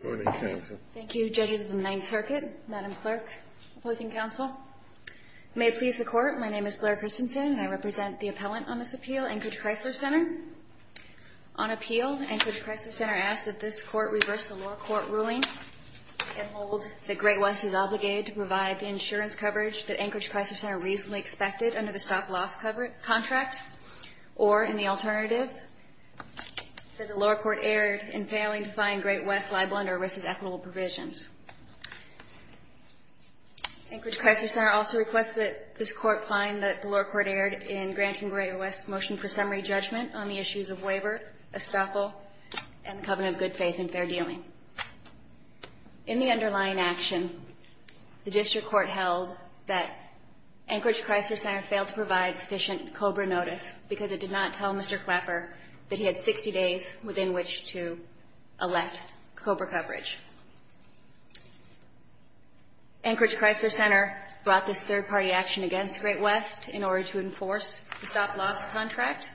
Thank you, Judges of the Ninth Circuit, Madam Clerk, Opposing Counsel. May it please the Court, my name is Blair Christensen, and I represent the appellant on this appeal, Anchorage Chrysler Center. On appeal, Anchorage Chrysler Center asks that this Court reverse the lower court ruling and hold that Great-West is obligated to provide the insurance coverage that Anchorage Chrysler Center reasonably expected under the stop-loss contract or in the alternative that the lower court erred in failing to find Great-West liable under risk-equitable provisions. Anchorage Chrysler Center also requests that this Court find that the lower court erred in granting Great-West's motion for summary judgment on the issues of waiver, estoppel, and the covenant of good faith and fair dealing. In the underlying action, the District Court held that Anchorage Chrysler Center failed to provide sufficient COBRA notice because it did not tell Mr. Clapper that he had 60 days within which to elect COBRA coverage. Anchorage Chrysler Center brought this third-party action against Great-West in order to enforce the stop-loss contract.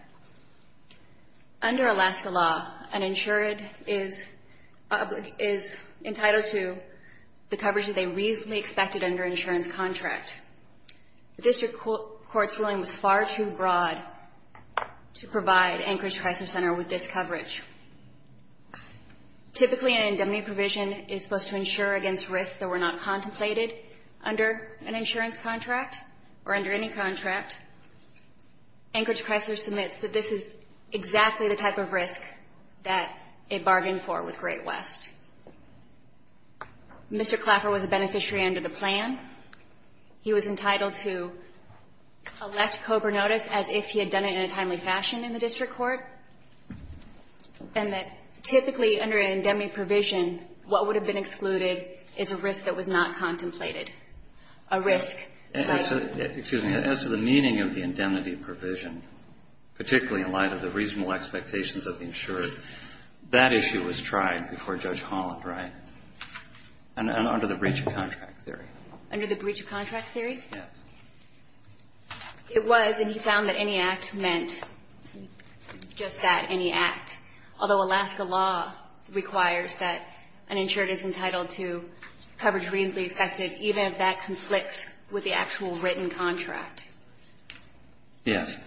Under Alaska law, an insured is entitled to the coverage that they reasonably expected under an insurance contract. The District Court's ruling was far too broad to provide Anchorage Chrysler Center with this coverage. Typically, an indemnity provision is supposed to insure against risks that were not contemplated under an insurance contract or under any contract. Anchorage Chrysler submits that this is exactly the type of risk that it bargained for with Great-West. Mr. Clapper was a beneficiary under the plan. He was entitled to elect COBRA notice as if he had done it in a timely fashion in the District Court, and that typically under an indemnity provision, what would have been excluded is a risk that was not contemplated, a risk by the court. Excuse me. As to the meaning of the indemnity provision, particularly in light of the reasonable expectations of the insured, that issue was tried before Judge Holland, right? And under the breach of contract theory. Under the breach of contract theory? Yes. It was, and he found that any act meant just that, any act. Although Alaska law requires that an insured is entitled to coverage reasonably expected, even if that conflicts with the actual written contract. Yes.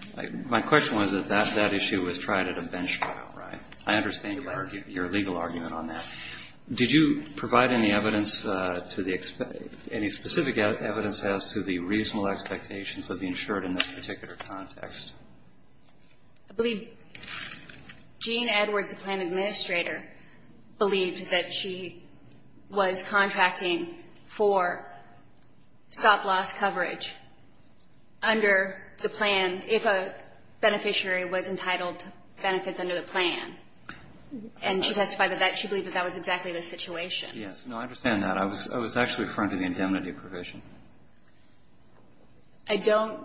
My question was that that issue was tried at a bench trial, right? I understand your legal argument on that. Did you provide any evidence to the, any specific evidence as to the reasonable expectations of the insured in this particular context? I believe Jean Edwards, the plan administrator, believed that she was contracting for stop-loss coverage under the plan if a beneficiary was entitled to benefits under the plan. And she testified that she believed that that was exactly the situation. Yes. No, I understand that. I was actually referring to the indemnity provision. I don't.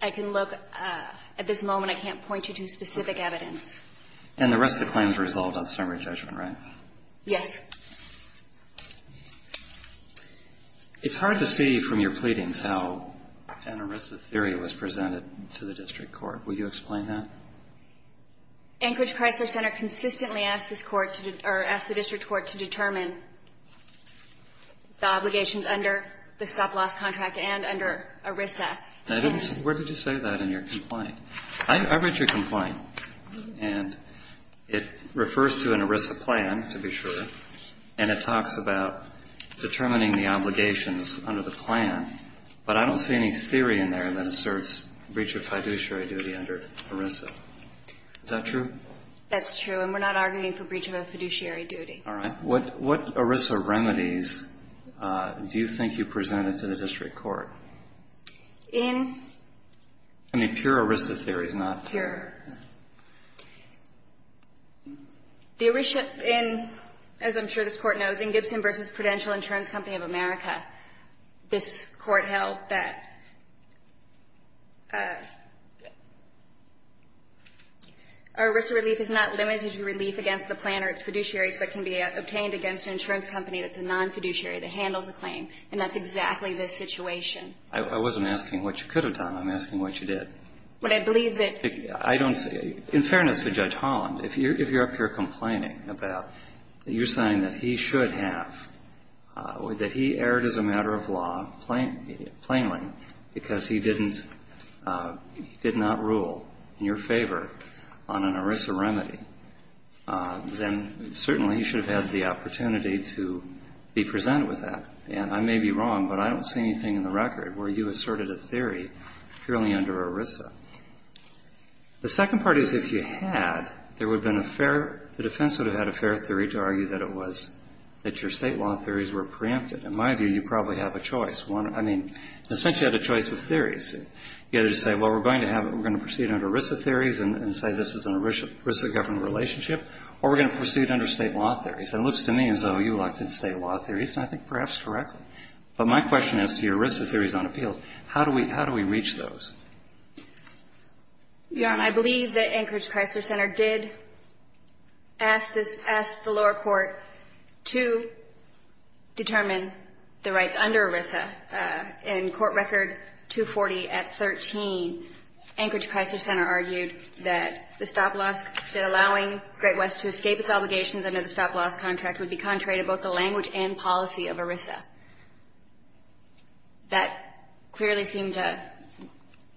I can look. At this moment, I can't point you to specific evidence. And the rest of the claims resolved on summary judgment, right? Yes. It's hard to see from your pleadings how an ERISA theory was presented to the district court. Will you explain that? Anchorage Chrysler Center consistently asked this court to, or asked the district court to determine the obligations under the stop-loss contract and under ERISA. Where did you say that in your complaint? I read your complaint. And it refers to an ERISA plan, to be sure. And it talks about determining the obligations under the plan. But I don't see any theory in there that asserts breach of fiduciary duty under ERISA. Is that true? That's true. And we're not arguing for breach of a fiduciary duty. All right. What ERISA remedies do you think you presented to the district court? In? I mean, pure ERISA theories, not pure. The ERISA in, as I'm sure this Court knows, in Gibson v. Prudential Insurance Company of America, this Court held that ERISA relief is not limited to relief against the plan or its fiduciaries, but can be obtained against an insurance company that's a non-fiduciary, that handles a claim. And that's exactly this situation. I wasn't asking what you could have done. I'm asking what you did. But I believe that I don't see. In fairness to Judge Holland, if you're up here complaining about that you're saying that he should have, that he erred as a matter of law plainly because he didn't, did not rule in your favor on an ERISA remedy, then certainly he should have had the opportunity to be presented with that. And I may be wrong, but I don't see anything in the record where you asserted that you had a fair theory purely under ERISA. The second part is if you had, there would have been a fair the defense would have had a fair theory to argue that it was that your State law theories were preempted. In my view, you probably have a choice. One, I mean, essentially you had a choice of theories. You had to say, well, we're going to have, we're going to proceed under ERISA theories and say this is an ERISA-governed relationship, or we're going to proceed under State law theories. And it looks to me as though you elected State law theories, and I think perhaps correctly. But my question is to your ERISA theories on appeals. How do we, how do we reach those? Yeah. And I believe that Anchorage Chrysler Center did ask this, ask the lower court to determine the rights under ERISA. In Court Record 240 at 13, Anchorage Chrysler Center argued that the stop loss, that allowing Great West to escape its obligations under the stop loss contract would be contrary to both the language and policy of ERISA. That clearly seemed to,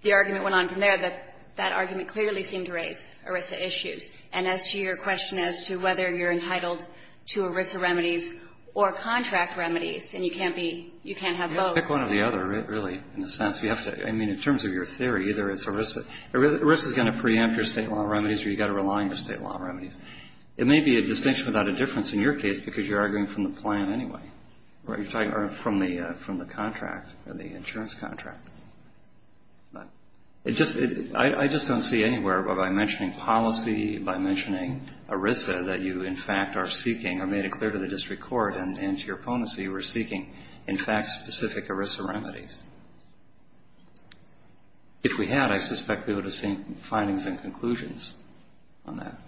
the argument went on from there, that that argument clearly seemed to raise ERISA issues. And as to your question as to whether you're entitled to ERISA remedies or contract remedies, and you can't be, you can't have both. You have to pick one or the other, really, in a sense. You have to, I mean, in terms of your theory, either it's ERISA, ERISA is going to preempt your State law remedies or you've got to rely on your State law remedies. It may be a distinction without a difference in your case because you're arguing from the plan anyway. Or you're talking from the contract or the insurance contract. But it just, I just don't see anywhere by mentioning policy, by mentioning ERISA, that you, in fact, are seeking or made it clear to the district court and to your opponents that you were seeking, in fact, specific ERISA remedies. If we had, I suspect we would have seen findings and conclusions on that.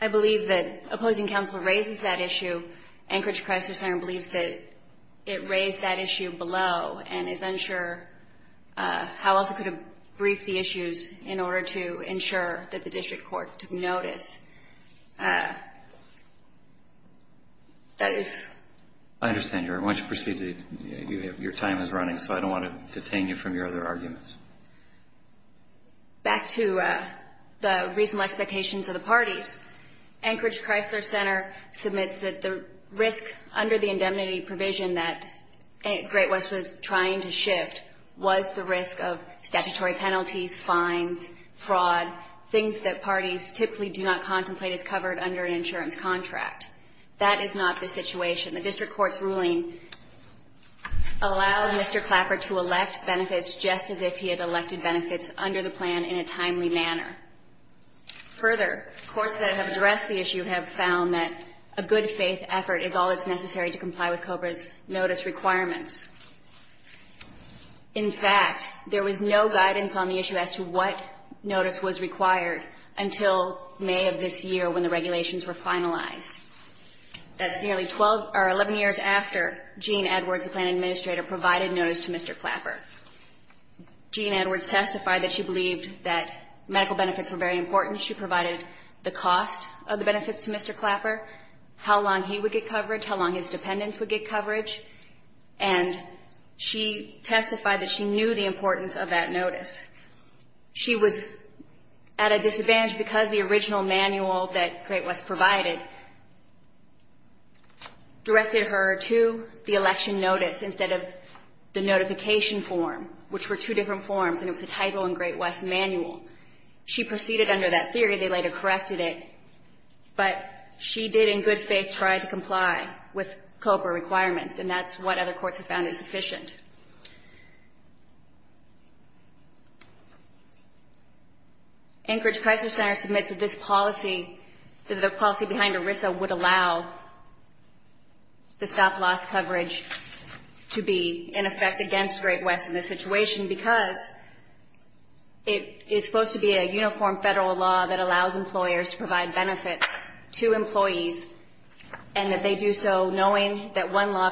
I believe that opposing counsel raises that issue. Anchorage Crisis Center believes that it raised that issue below and is unsure how else it could have briefed the issues in order to ensure that the district court took notice. That is. I understand, Your Honor. I want you to proceed. Your time is running, so I don't want to detain you from your other arguments. Back to the reasonable expectations of the parties. Anchorage Crisis Center submits that the risk under the indemnity provision that Great West was trying to shift was the risk of statutory penalties, fines, fraud, things that parties typically do not contemplate as covered under an insurance contract. That is not the situation. The district court's ruling allows Mr. Clapper to elect benefits just as if he had elected benefits under the plan in a timely manner. Further, courts that have addressed the issue have found that a good faith effort is all that's necessary to comply with COBRA's notice requirements. In fact, there was no guidance on the issue as to what notice was required until May of this year when the regulations were finalized. That's nearly 11 years after Gene Edwards, the plan administrator, provided notice to Mr. Clapper. Gene Edwards testified that she believed that medical benefits were very important. She provided the cost of the benefits to Mr. Clapper, how long he would get coverage, how long his dependents would get coverage. And she testified that she knew the importance of that notice. She was at a disadvantage because the original manual that Great West provided directed her to the election notice instead of the notification form, which were two different forms, and it was a title in Great West's manual. She proceeded under that theory. They later corrected it. But she did in good faith try to comply with COBRA requirements, and that's what other courts have found is sufficient. Anchorage Crisis Center submits that this policy, that the policy behind ERISA would allow the stop-loss coverage to be in effect against Great West in this situation because it is supposed to be a uniform federal law that allows employers to provide benefits to employees and that they do so knowing that one law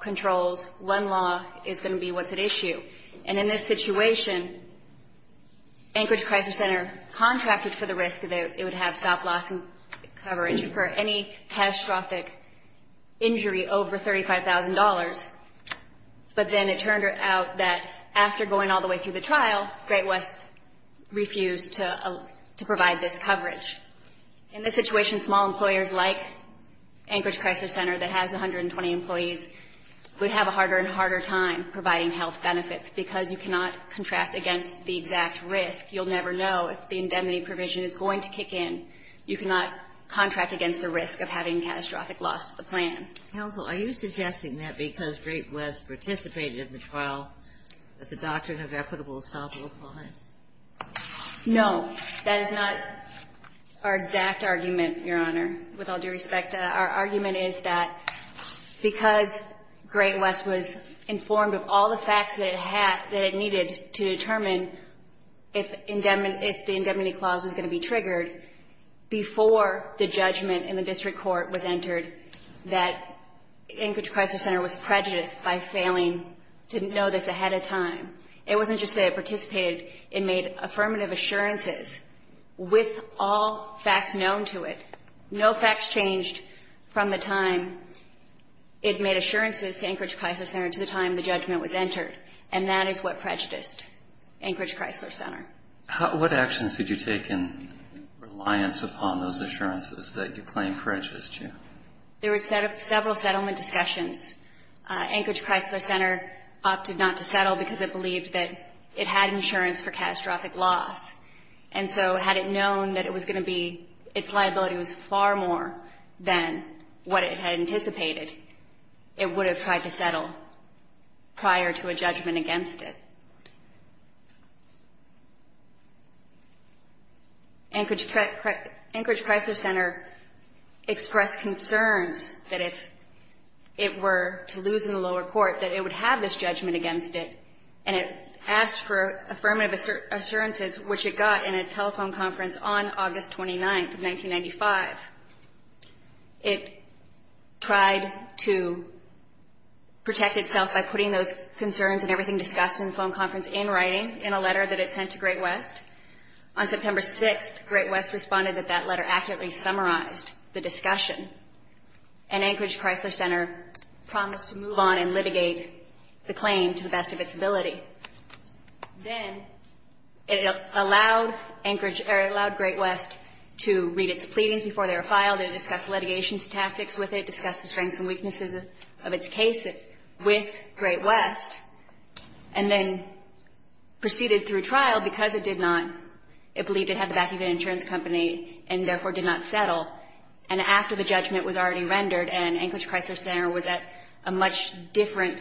controls, one law is going to be what's at issue. And in this situation, Anchorage Crisis Center contracted for the risk that it would have stop-loss coverage for any catastrophic injury over $35,000. But then it turned out that after going all the way through the trial, Great West refused to provide this coverage. In this situation, small employers like Anchorage Crisis Center that has 120 employees would have a harder and harder time providing health benefits because you cannot contract against the exact risk. You'll never know if the indemnity provision is going to kick in. You cannot contract against the risk of having catastrophic loss of the plan. Counsel, are you suggesting that because Great West participated in the trial that the doctrine of equitable stop-loss applies? No. That is not our exact argument, Your Honor, with all due respect. Our argument is that because Great West was informed of all the facts that it had that it needed to determine if the indemnity clause was going to be triggered before the judgment in the district court was entered, that Anchorage Crisis Center was prejudiced by failing to know this ahead of time. It wasn't just that it participated. It made affirmative assurances with all facts known to it. No facts changed from the time it made assurances to Anchorage Crisis Center to the time the judgment was entered. And that is what prejudiced Anchorage Crisis Center. What actions did you take in reliance upon those assurances that you claimed prejudiced you? There were several settlement discussions. Anchorage Crisis Center opted not to settle because it believed that it had insurance for catastrophic loss. And so had it known that it was going to be its liability was far more than what it had anticipated, it would have tried to settle prior to a judgment against it. Anchorage Crisis Center expressed concerns that if it were to lose in the lower court, that it would have this judgment against it, and it asked for affirmative assurances, which it got in a telephone conference on August 29th of 1995. It tried to protect itself by putting those concerns and everything discussed in the letter that it sent to Great West. On September 6th, Great West responded that that letter accurately summarized the discussion, and Anchorage Crisis Center promised to move on and litigate the claim to the best of its ability. Then it allowed Anchorage or it allowed Great West to read its pleadings before they were filed. It discussed litigation tactics with it, discussed the strengths and weaknesses of its case with Great West, and then proceeded through trial because it did not, it believed it had the backing of an insurance company and therefore did not settle. And after the judgment was already rendered and Anchorage Crisis Center was at a much different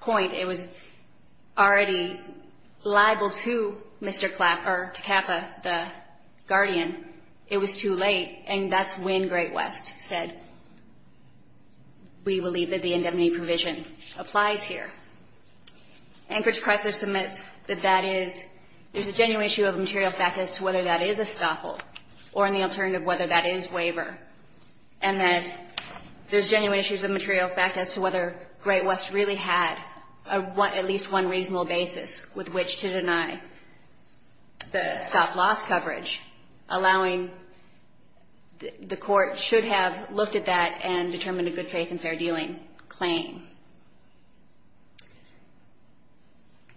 point, it was already liable to Mr. Klapper, to Kappa, the guardian. It was too late. And that's when Great West said, we believe that the indemnity provision applies here. Anchorage Crisis admits that that is, there's a genuine issue of material fact as to whether that is a stop hold or an alternative whether that is waiver, and that there's genuine issues of material fact as to whether Great West really had at least one reasonable basis with which to deny the stop loss coverage, allowing the court should have looked at that and determined a good faith and fair dealing claim.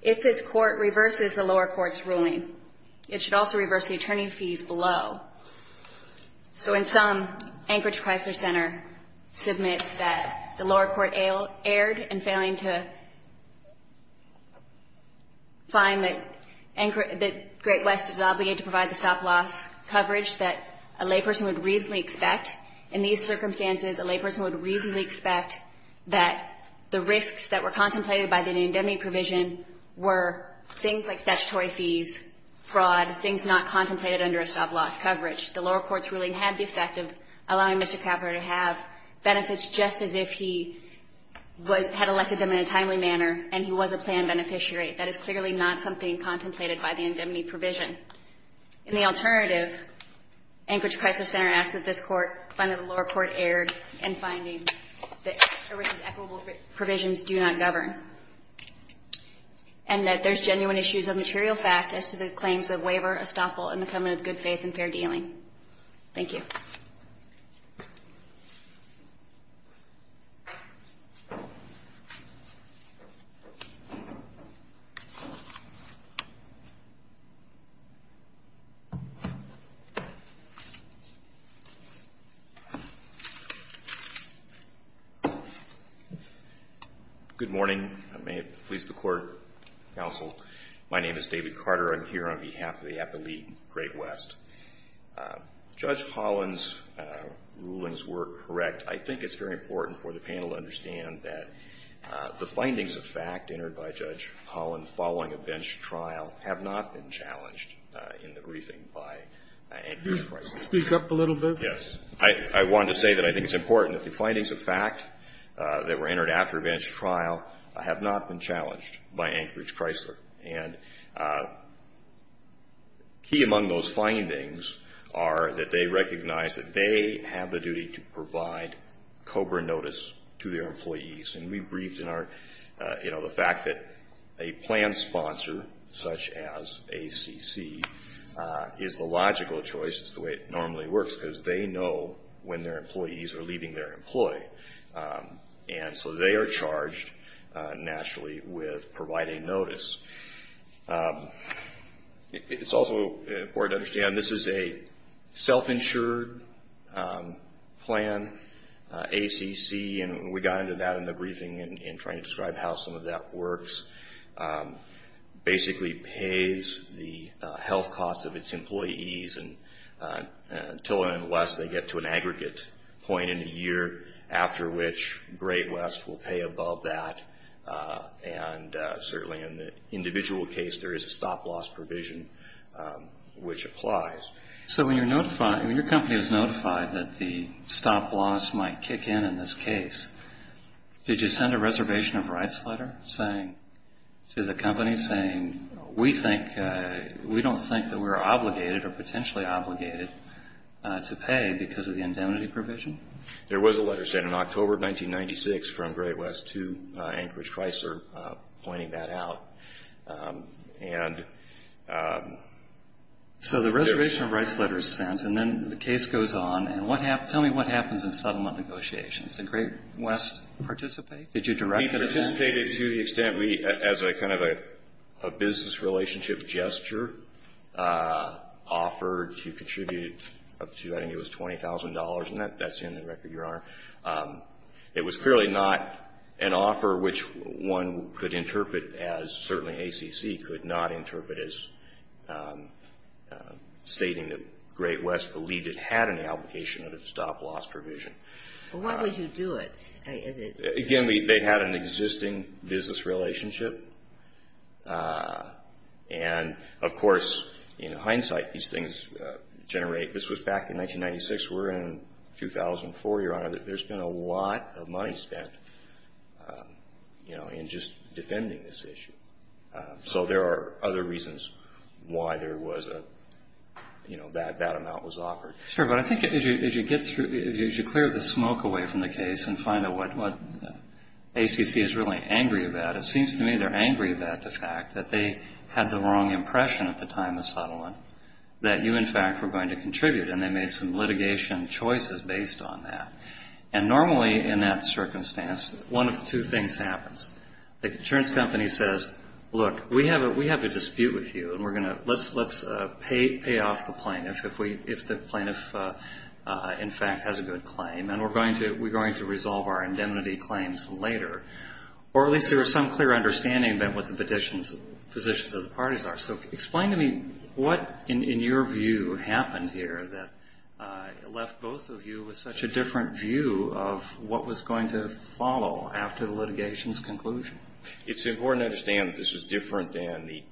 If this court reverses the lower court's ruling, it should also reverse the attorney fees below. So in sum, Anchorage Crisis Center submits that the lower court erred in failing to find that Great West is obligated to provide the stop loss coverage that a layperson would reasonably expect. In these circumstances, a layperson would reasonably expect that the risks that were contemplated by the indemnity provision were things like statutory fees, fraud, things not contemplated under a stop loss coverage. The lower court's ruling had the effect of allowing Mr. Klapper to have benefits just as if he had elected them in a timely manner and he was a planned beneficiary. That is clearly not something contemplated by the indemnity provision. In the alternative, Anchorage Crisis Center asks that this court find that the lower court erred in finding that Great West's equitable provisions do not govern, and that there's genuine issues of material fact as to the claims of waiver, a stop hold, and fair dealing. Thank you. Good morning. May it please the court, counsel. My name is David Carter. I'm here on behalf of the Appellate Great West. Judge Holland's rulings were correct. I think it's very important for the panel to understand that the findings of fact entered by Judge Holland following a bench trial have not been challenged in the briefing by Anchorage Crisis. Speak up a little bit. Yes. I wanted to say that I think it's important that the findings of fact that were entered after a bench trial have not been challenged by Anchorage Crisis. And key among those findings are that they recognize that they have the duty to provide COBRA notice to their employees. And we briefed in our, you know, the fact that a plan sponsor, such as ACC, is the logical choice. It's the way it normally works, because they know when their employees are leaving their employee. And so they are charged, naturally, with providing notice. It's also important to understand this is a self-insured plan. ACC, and we got into that in the briefing in trying to describe how some of that works, basically pays the health costs of its employees until and unless they get to an aggregate point in a year after which Great West will pay above that. And certainly in the individual case, there is a stop-loss provision which applies. So when your company is notified that the stop-loss might kick in in this case, did you send a reservation of rights letter to the company saying, we don't think that we're going to pay that stop-loss provision? There was a letter sent in October of 1996 from Great West to Anchorage Chrysler pointing that out. So the reservation of rights letter is sent, and then the case goes on, and tell me what happens in settlement negotiations? Did Great West participate? Did you direct an event? We participated to the extent we, as a kind of a business relationship gesture, offered to contribute up to, I think it was $20,000, and that's in the record, Your Honor. It was clearly not an offer which one could interpret as, certainly ACC could not interpret as stating that Great West believed it had an application of a stop-loss provision. Well, why would you do it? Again, they had an existing business relationship. And, of course, in hindsight, these things generate. This was back in 1996. We're in 2004, Your Honor. There's been a lot of money spent, you know, in just defending this issue. So there are other reasons why there was a, you know, that amount was offered. Sure, but I think as you clear the smoke away from the case and find out what ACC is really angry about, it seems to me they're angry about the fact that they had the wrong impression at the time of settlement that you, in fact, were going to contribute, and they made some litigation choices based on that. And normally, in that circumstance, one of two things happens. The insurance company says, look, we have a dispute with you, and we're going to, let's pay off the plaintiff if the plaintiff, in fact, has a good claim, and we're going to resolve our indemnity claims later. Or at least there was some clear understanding of what the positions of the parties are. So explain to me what, in your view, happened here that left both of you with such a different view of what was going to follow after the litigation's conclusion. It's important to understand that this is different than the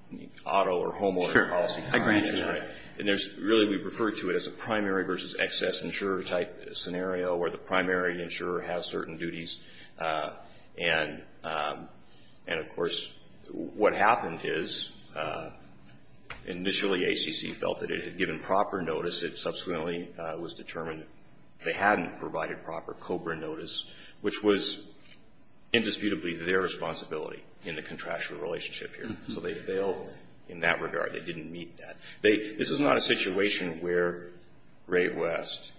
auto or homeowner's policy. I agree. That's right. And there's really, we refer to it as a primary versus excess insurer type scenario where the primary insurer has certain duties. And, of course, what happened is initially ACC felt that it had given proper notice. It subsequently was determined they hadn't provided proper COBRA notice, which was indisputably their responsibility in the contractual relationship here. So they failed in that regard. They didn't meet that. This is not a situation where Ray West,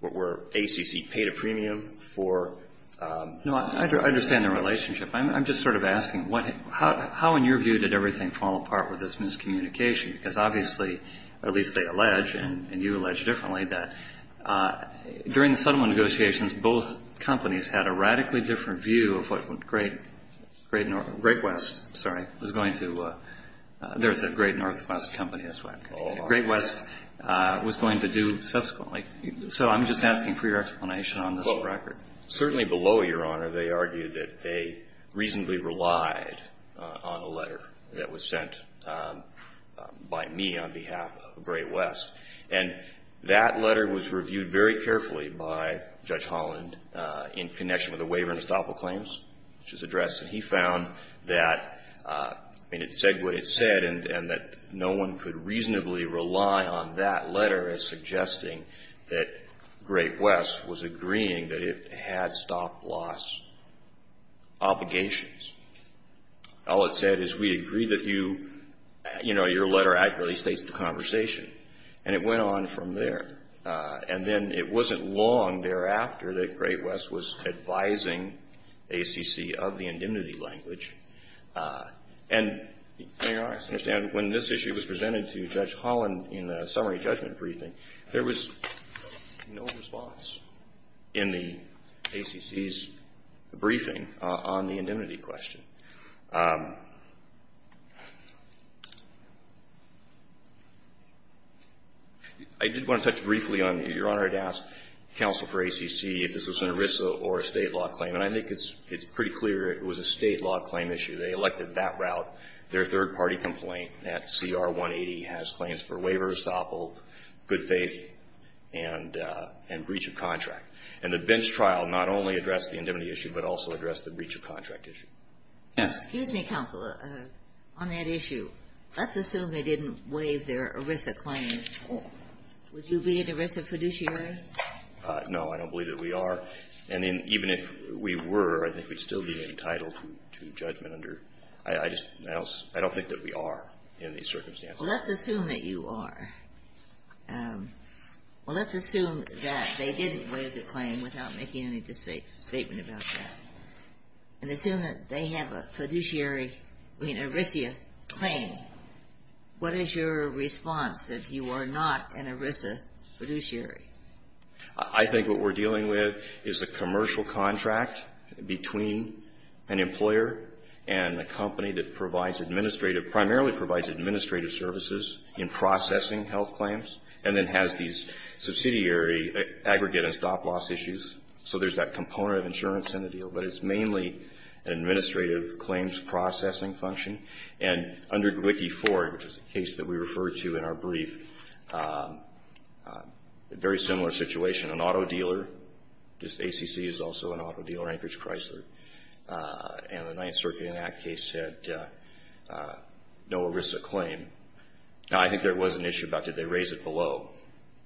where ACC paid a premium for... No, I understand the relationship. I'm just sort of asking, how, in your view, did everything fall apart with this miscommunication? Because obviously, or at least they allege, and you allege differently, that during the Great North, Great West, sorry, was going to, there's a Great Northwest company, that's right. Great West was going to do subsequently. So I'm just asking for your explanation on this record. Well, certainly below, Your Honor, they argue that they reasonably relied on a letter that was sent by me on behalf of Great West. And that letter was reviewed very carefully by Judge Holland in connection with the waiver and compromise, which was addressed. And he found that, I mean, it said what it said, and that no one could reasonably rely on that letter as suggesting that Great West was agreeing that it had stop-loss obligations. All it said is, we agree that you, you know, your letter accurately states the conversation. And it went on from there. And then it wasn't long thereafter that Great West was advising ACC of the indemnity language. And, Your Honor, I understand when this issue was presented to Judge Holland in the summary judgment briefing, there was no response in the ACC's briefing on the indemnity question. I did want to touch briefly on, Your Honor, to ask counsel for ACC if this was an ERISA or a state law claim. And I think it's pretty clear it was a state law claim issue. They elected that route. Their third-party complaint at CR 180 has claims for waiver of estoppel, good faith, and breach of contract. And the bench trial not only addressed the indemnity issue, but also addressed the breach of contract issue. Yes. Excuse me, counsel. On that issue, let's assume they didn't waive their ERISA claim. Would you be an ERISA fiduciary? No. I don't believe that we are. And even if we were, I think we'd still be entitled to judgment under — I just — I don't think that we are in these circumstances. Well, let's assume that you are. Well, let's assume that they didn't waive the claim without making any statement about that. And assume that they have a fiduciary — I mean, ERISA claim. What is your response, that you are not an ERISA fiduciary? I think what we're dealing with is a commercial contract between an employer and a company that provides administrative — and then has these subsidiary aggregate and stop-loss issues. So there's that component of insurance in the deal. But it's mainly an administrative claims processing function. And under WICCI-IV, which is a case that we referred to in our brief, a very similar situation. An auto dealer, just ACC is also an auto dealer, Anchorage Chrysler, and the Ninth Circuit in that case had no ERISA claim. Now, I think there was an issue about, did they raise it below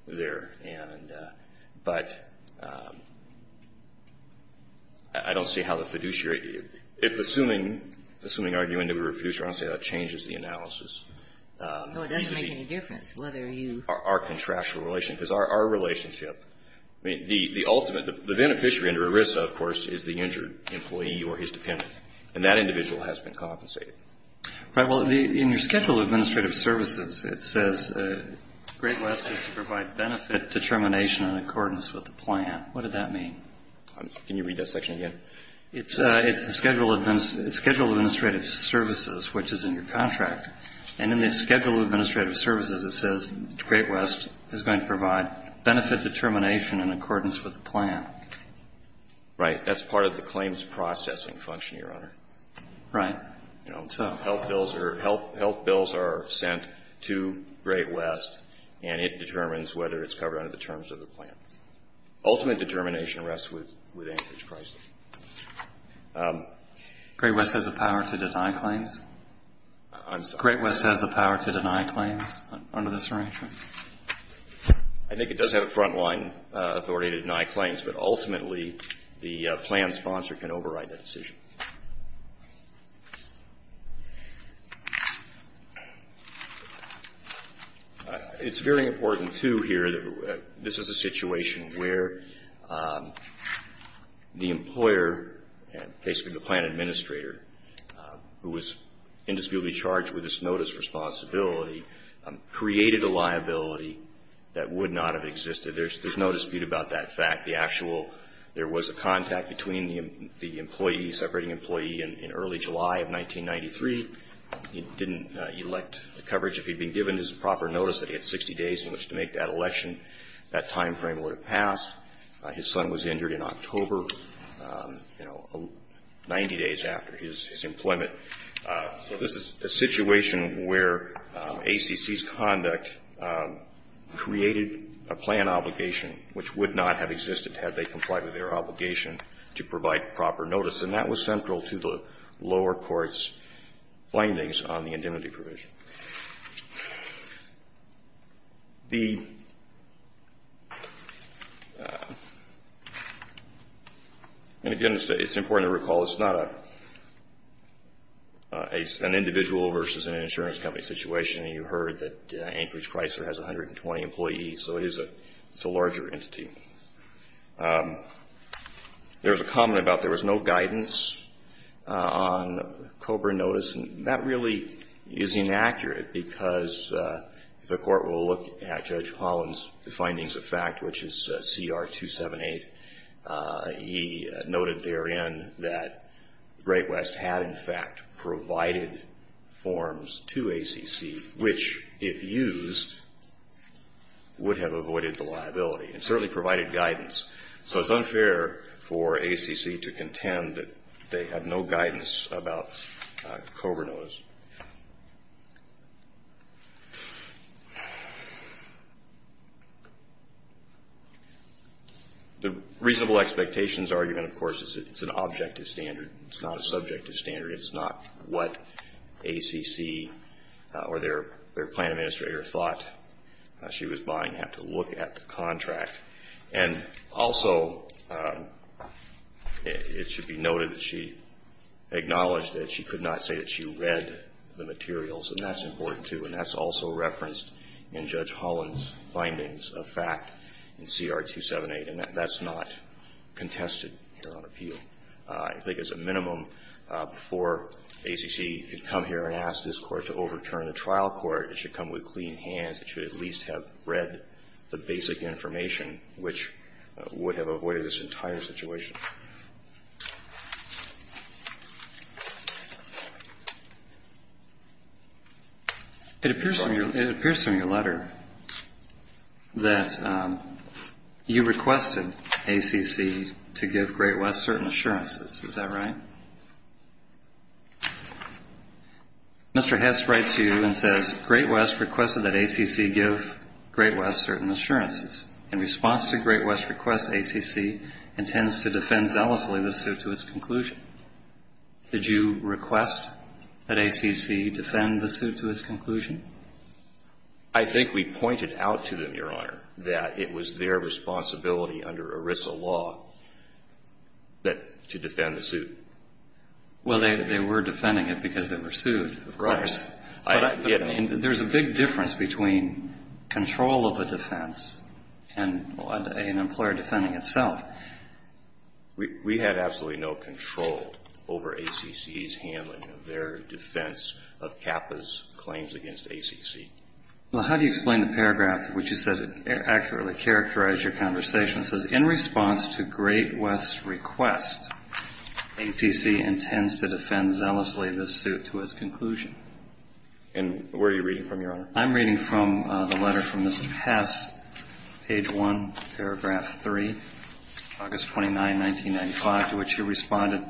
there? And — but I don't see how the fiduciary — if, assuming — assuming are you an individual fiduciary, I don't see how that changes the analysis. So it doesn't make any difference whether you — Our contractual relationship. Because our relationship — I mean, the ultimate — the beneficiary under ERISA, of course, is the injured employee or his dependent. And that individual has been compensated. Right. Well, in your Schedule of Administrative Services, it says, Great West is to provide benefit determination in accordance with the plan. What did that mean? Can you read that section again? It's the Schedule of Administrative Services, which is in your contract. And in the Schedule of Administrative Services, it says, Great West is going to provide benefit determination in accordance with the plan. Right. That's part of the claims processing function, Your Honor. Right. You know, health bills are — health bills are sent to Great West, and it determines whether it's covered under the terms of the plan. Ultimate determination rests with Anchorage Chrysler. Great West has the power to deny claims? I'm sorry? Great West has the power to deny claims under this arrangement? I think it does have a front-line authority to deny claims, but ultimately the plan sponsor can override that decision. It's very important, too, here that this is a situation where the employer, basically the plan administrator, who was indisputably charged with this notice responsibility, created a liability that would not have existed. There's no dispute about that fact. The actual — there was a contact between the employee, separating employee in early July of 1993. He didn't elect coverage. If he'd been given his proper notice that he had 60 days in which to make that election, that time frame would have passed. His son was injured in October, you know, 90 days after his employment. So this is a situation where ACC's conduct created a plan obligation, which would not have existed had they complied with their obligation to provide proper notice, and that was central to the lower court's findings on the indemnity provision. The — and, again, it's important to recall, it's not an individual versus an insurance company situation. You heard that Anchorage Chrysler has 120 employees, so it's a larger entity. There was a comment about there was no guidance on COBRA notice, and that really is inaccurate because the court will look at Judge Holland's findings of fact, which is CR 278. He noted therein that Great West had, in fact, provided forms to ACC, which, if used, would have avoided the liability and certainly provided guidance. So it's unfair for ACC to contend that they had no guidance about COBRA notice. The reasonable expectations argument, of course, is that it's an objective standard. It's not a subjective standard. It's not what ACC or their plan administrator thought she was buying, had to look at the contract. And also, it should be noted that she acknowledged that she could not say that she read the materials, and that's important, too, and that's also referenced in Judge Holland's findings of fact in CR 278, and that's not contested here on appeal. I think it's a minimum for ACC to come here and ask this Court to overturn the trial court. It should come with clean hands. It should at least have read the basic information, which would have avoided this entire situation. It appears from your letter that you requested ACC to give Great West certain assurances. Is that right? Mr. Hess writes to you and says, Great West requested that ACC give Great West certain assurances. In response to Great West's request, ACC intends to defend zealously the suit to its conclusion. Did you request that ACC defend the suit to its conclusion? I think we pointed out to them, Your Honor, that it was their responsibility under ERISA law to defend the suit. Well, they were defending it because they were sued, of course. There's a big difference between control of a defense and an employer defending itself. We had absolutely no control over ACC's handling of their defense of CAPA's claims against ACC. Well, how do you explain the paragraph which you said accurately characterized your conversation? It says, In response to Great West's request, ACC intends to defend zealously the suit to its conclusion. And where are you reading from, Your Honor? I'm reading from the letter from Mr. Hess, page 1, paragraph 3, August 29, 1995, to which you responded.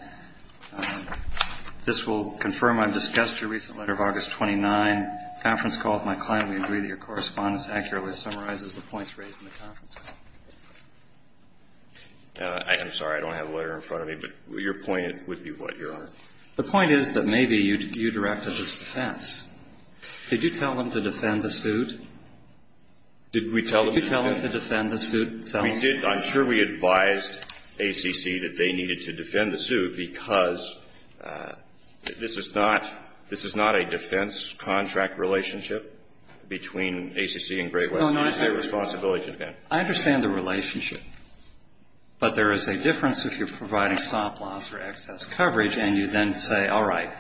This will confirm I've discussed your recent letter of August 29, conference call with my client. We agree that your correspondence accurately summarizes the points raised in the conference call. I'm sorry. I don't have a letter in front of me, but your point would be what, Your Honor? The point is that maybe you directed this defense. Did you tell them to defend the suit? Did we tell them to defend the suit? We did. I'm sure we advised ACC that they needed to defend the suit because this is not a defense contract relationship between ACC and Great West. It is their responsibility to defend. I understand the relationship. But there is a difference if you're providing stop-loss or excess coverage and you then say, all right,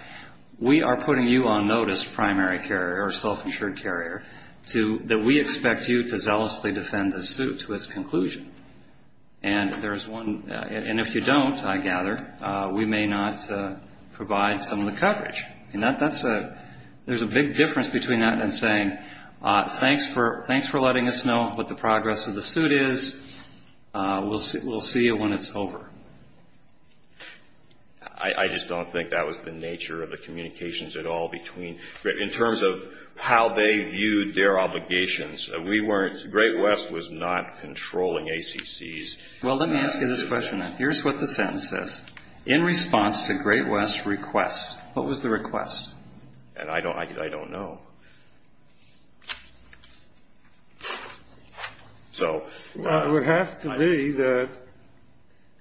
we are putting you on notice, primary carrier or self-insured carrier, that we expect you to zealously defend the suit to its conclusion. And if you don't, I gather, we may not provide some of the coverage. There's a big difference between that and saying, thanks for letting us know what the progress of the suit is. We'll see you when it's over. I just don't think that was the nature of the communications at all between, in terms of how they viewed their obligations. We weren't, Great West was not controlling ACC's. Well, let me ask you this question then. Here's what the sentence says. In response to Great West's request, what was the request? I don't know. It would have to be that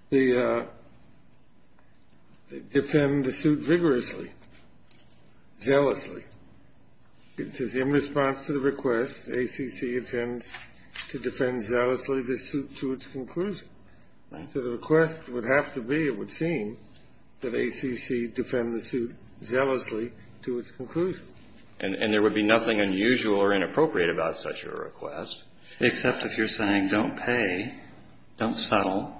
they defend the suit vigorously, zealously. It says, in response to the request, ACC intends to defend zealously the suit to its conclusion. So the request would have to be, it would seem, that ACC defend the suit zealously to its conclusion. And there would be nothing unusual or inappropriate about such a request. Except if you're saying, don't pay, don't settle,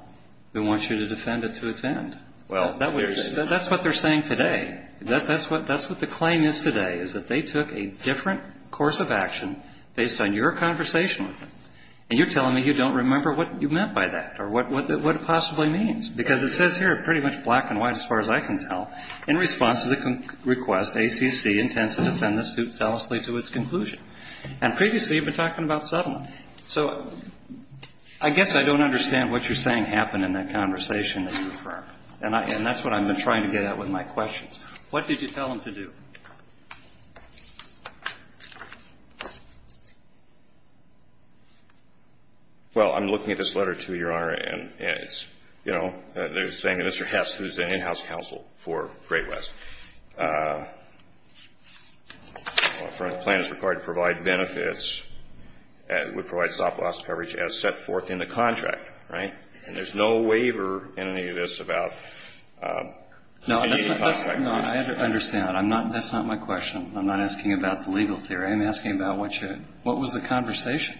they want you to defend it to its end. That's what they're saying today. That's what the claim is today, is that they took a different course of action based on your conversation with them. And you're telling me you don't remember what you meant by that or what it possibly means. Because it says here, pretty much black and white as far as I can tell, in response to the request, ACC intends to defend the suit zealously to its conclusion. And previously you've been talking about settlement. So I guess I don't understand what you're saying happened in that conversation that you've heard. And that's what I've been trying to get at with my questions. What did you tell them to do? Well, I'm looking at this letter, too, Your Honor, and it's, you know, they're saying Mr. Hess, who's an in-house counsel for Great West, a plan is required to provide benefits that would provide stop-loss coverage as set forth in the contract. Right? And there's no waiver in any of this about any of the contracts. No, I understand. I'm just trying to figure out. That's not my question. I'm not asking about the legal theory. I'm asking about what was the conversation.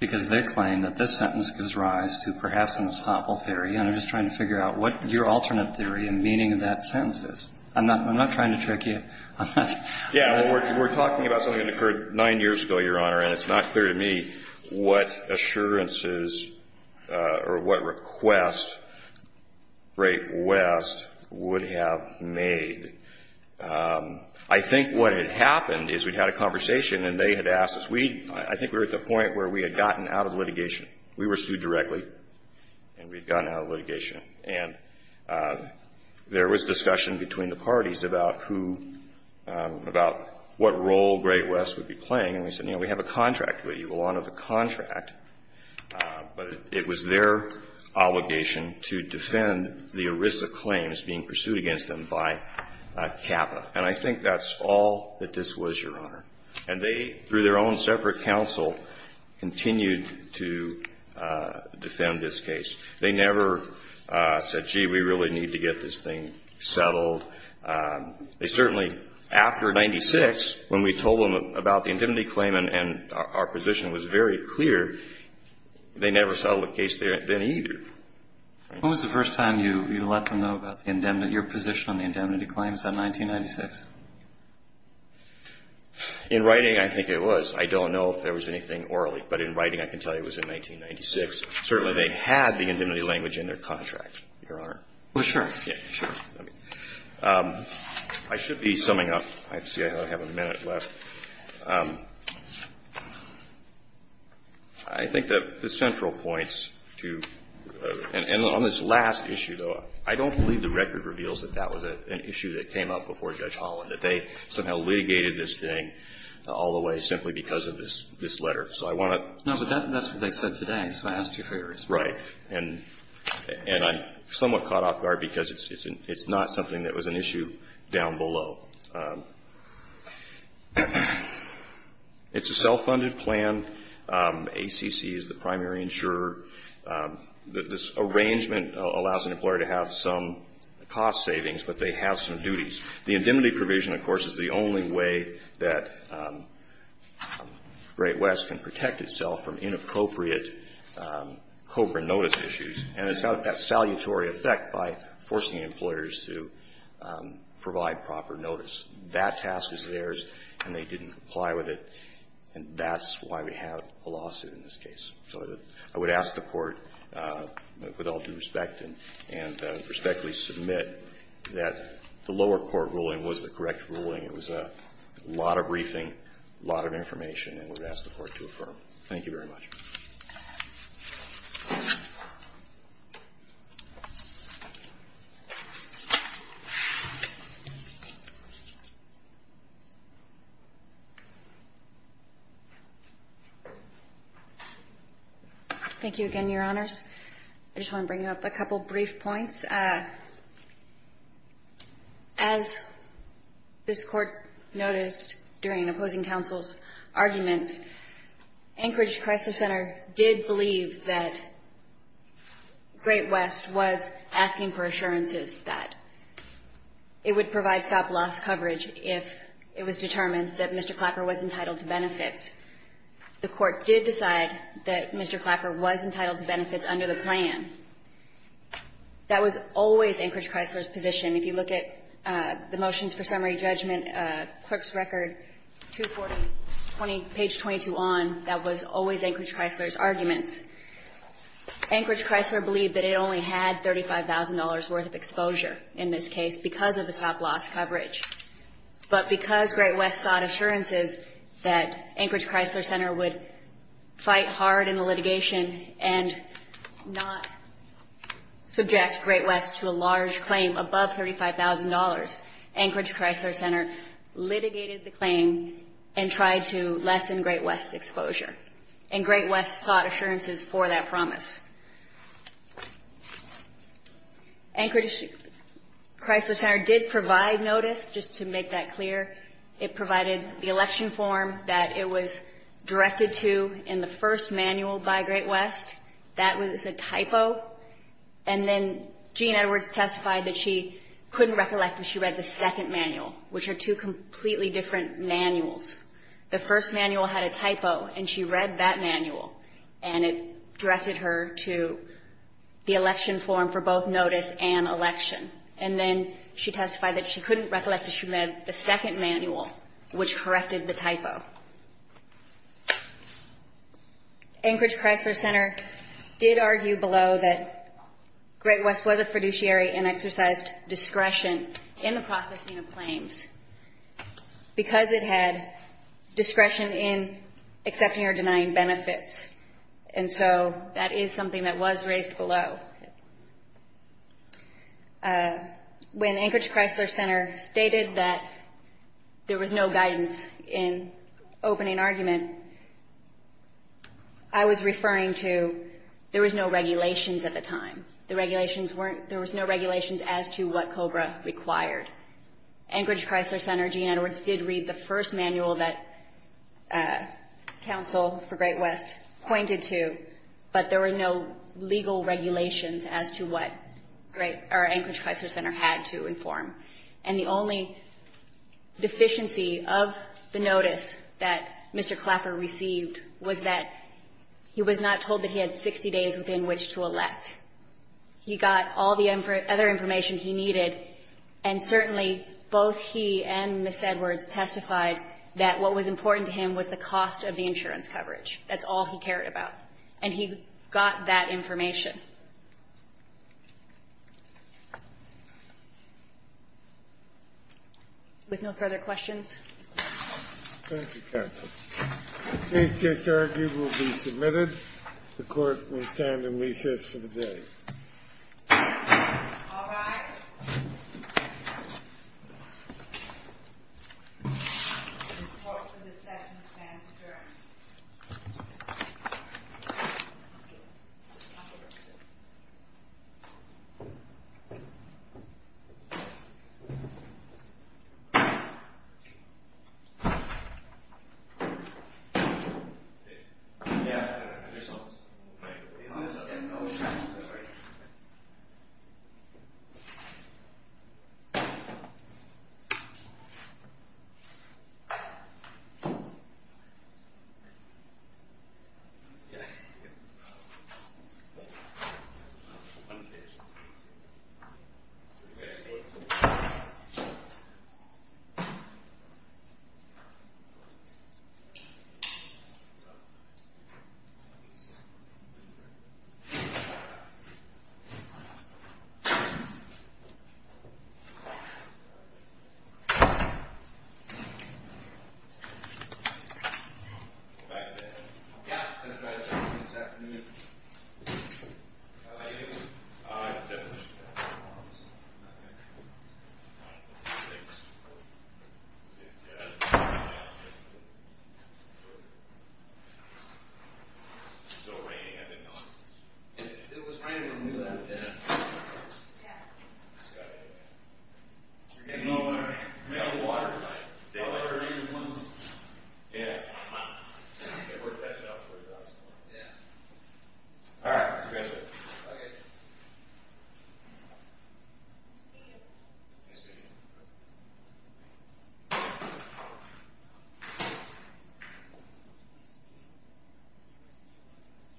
Because they claim that this sentence gives rise to perhaps an estoppel theory, and I'm just trying to figure out what your alternate theory and meaning of that sentence is. I'm not trying to trick you. Yeah, well, we're talking about something that occurred nine years ago, Your Honor, and it's not clear to me what assurances or what requests Great West would have made. I think what had happened is we'd had a conversation, and they had asked us. I think we were at the point where we had gotten out of litigation. We were sued directly, and we'd gotten out of litigation. And there was discussion between the parties about who, about what role Great West would be playing. And we said, you know, we have a contract with you, we'll honor the contract. But it was their obligation to defend the ERISA claims being pursued against them by CAPA. And I think that's all that this was, Your Honor. And they, through their own separate counsel, continued to defend this case. They never said, gee, we really need to get this thing settled. They certainly, after 1996, when we told them about the indemnity claim and our position was very clear, they never settled the case then either. When was the first time you let them know about your position on the indemnity claims in 1996? In writing, I think it was. I don't know if there was anything orally. But in writing, I can tell you it was in 1996. Certainly, they had the indemnity language in their contract, Your Honor. Well, sure. I should be summing up. I see I have a minute left. I think that the central points to, and on this last issue, though, I don't believe the record reveals that that was an issue that came up before Judge Holland, that they somehow litigated this thing all the way simply because of this letter. So I want to. No, but that's what they said today. So I asked you for your response. Right. And I'm somewhat caught off guard because it's not something that was an issue down below. It's a self-funded plan. ACC is the primary insurer. This arrangement allows an employer to have some cost savings, but they have some duties. The indemnity provision, of course, is the only way that Great West can protect itself from inappropriate COBRA notice issues. And it's got that salutary effect by forcing employers to provide proper notice. That task is theirs, and they didn't comply with it. And that's why we have a lawsuit in this case. So I would ask the Court, with all due respect and respectfully submit, that the lower court ruling was the correct ruling. It was a lot of briefing, a lot of information, and I would ask the Court to affirm. Thank you very much. Thank you again, Your Honors. I just want to bring up a couple brief points. As this Court noticed during opposing counsel's arguments, Anchorage Crisis Center did believe that Great West was asking for assurances that it would provide stop-loss coverage if it was determined that Mr. Clapper was entitled to benefits. The Court did decide that Mr. Clapper was entitled to benefits under the plan. That was always Anchorage Chrysler's position. If you look at the motions for summary judgment, clerk's record 240, page 22 on, that was always Anchorage Chrysler's arguments. Anchorage Chrysler believed that it only had $35,000 worth of exposure in this case because of the stop-loss coverage. But because Great West sought assurances that Anchorage Chrysler Center would fight hard in the litigation and not subject Great West to a large claim above $35,000, Anchorage Chrysler Center litigated the claim and tried to lessen Great West's exposure. And Great West sought assurances for that promise. Anchorage Chrysler Center did provide notice, just to make that clear. It provided the election form that it was directed to in the first manual by Great West. That was a typo. And then Jean Edwards testified that she couldn't recollect when she read the second manual, which are two completely different manuals. The first manual had a typo, and she read that manual, and it directed her to the election form for both notice and election. And then she testified that she couldn't recollect that she read the second manual, which corrected the typo. Anchorage Chrysler Center did argue below that Great West was a fiduciary because it had discretion in accepting or denying benefits. And so that is something that was raised below. When Anchorage Chrysler Center stated that there was no guidance in opening argument, I was referring to there was no regulations at the time. There was no regulations as to what COBRA required. Anchorage Chrysler Center, Jean Edwards did read the first manual that counsel for Great West pointed to, but there were no legal regulations as to what Anchorage Chrysler Center had to inform. And the only deficiency of the notice that Mr. Clapper received was that he was not told that he had 60 days within which to elect. He got all the other information he needed, and certainly both he and Ms. Edwards testified that what was important to him was the cost of the insurance coverage. That's all he cared about. And he got that information. With no further questions? Thank you, counsel. The case just argued will be submitted. The court will stand in recess for the day. All rise. The court will dismiss and adjourn. Thank you. Thank you. We have water? Yeah. Yeah. Yeah. All right. Okay. All right. Okay. All right. Okay. Okay. Okay. Okay. Okay. All right. Okay. Okay. Okay. Okay.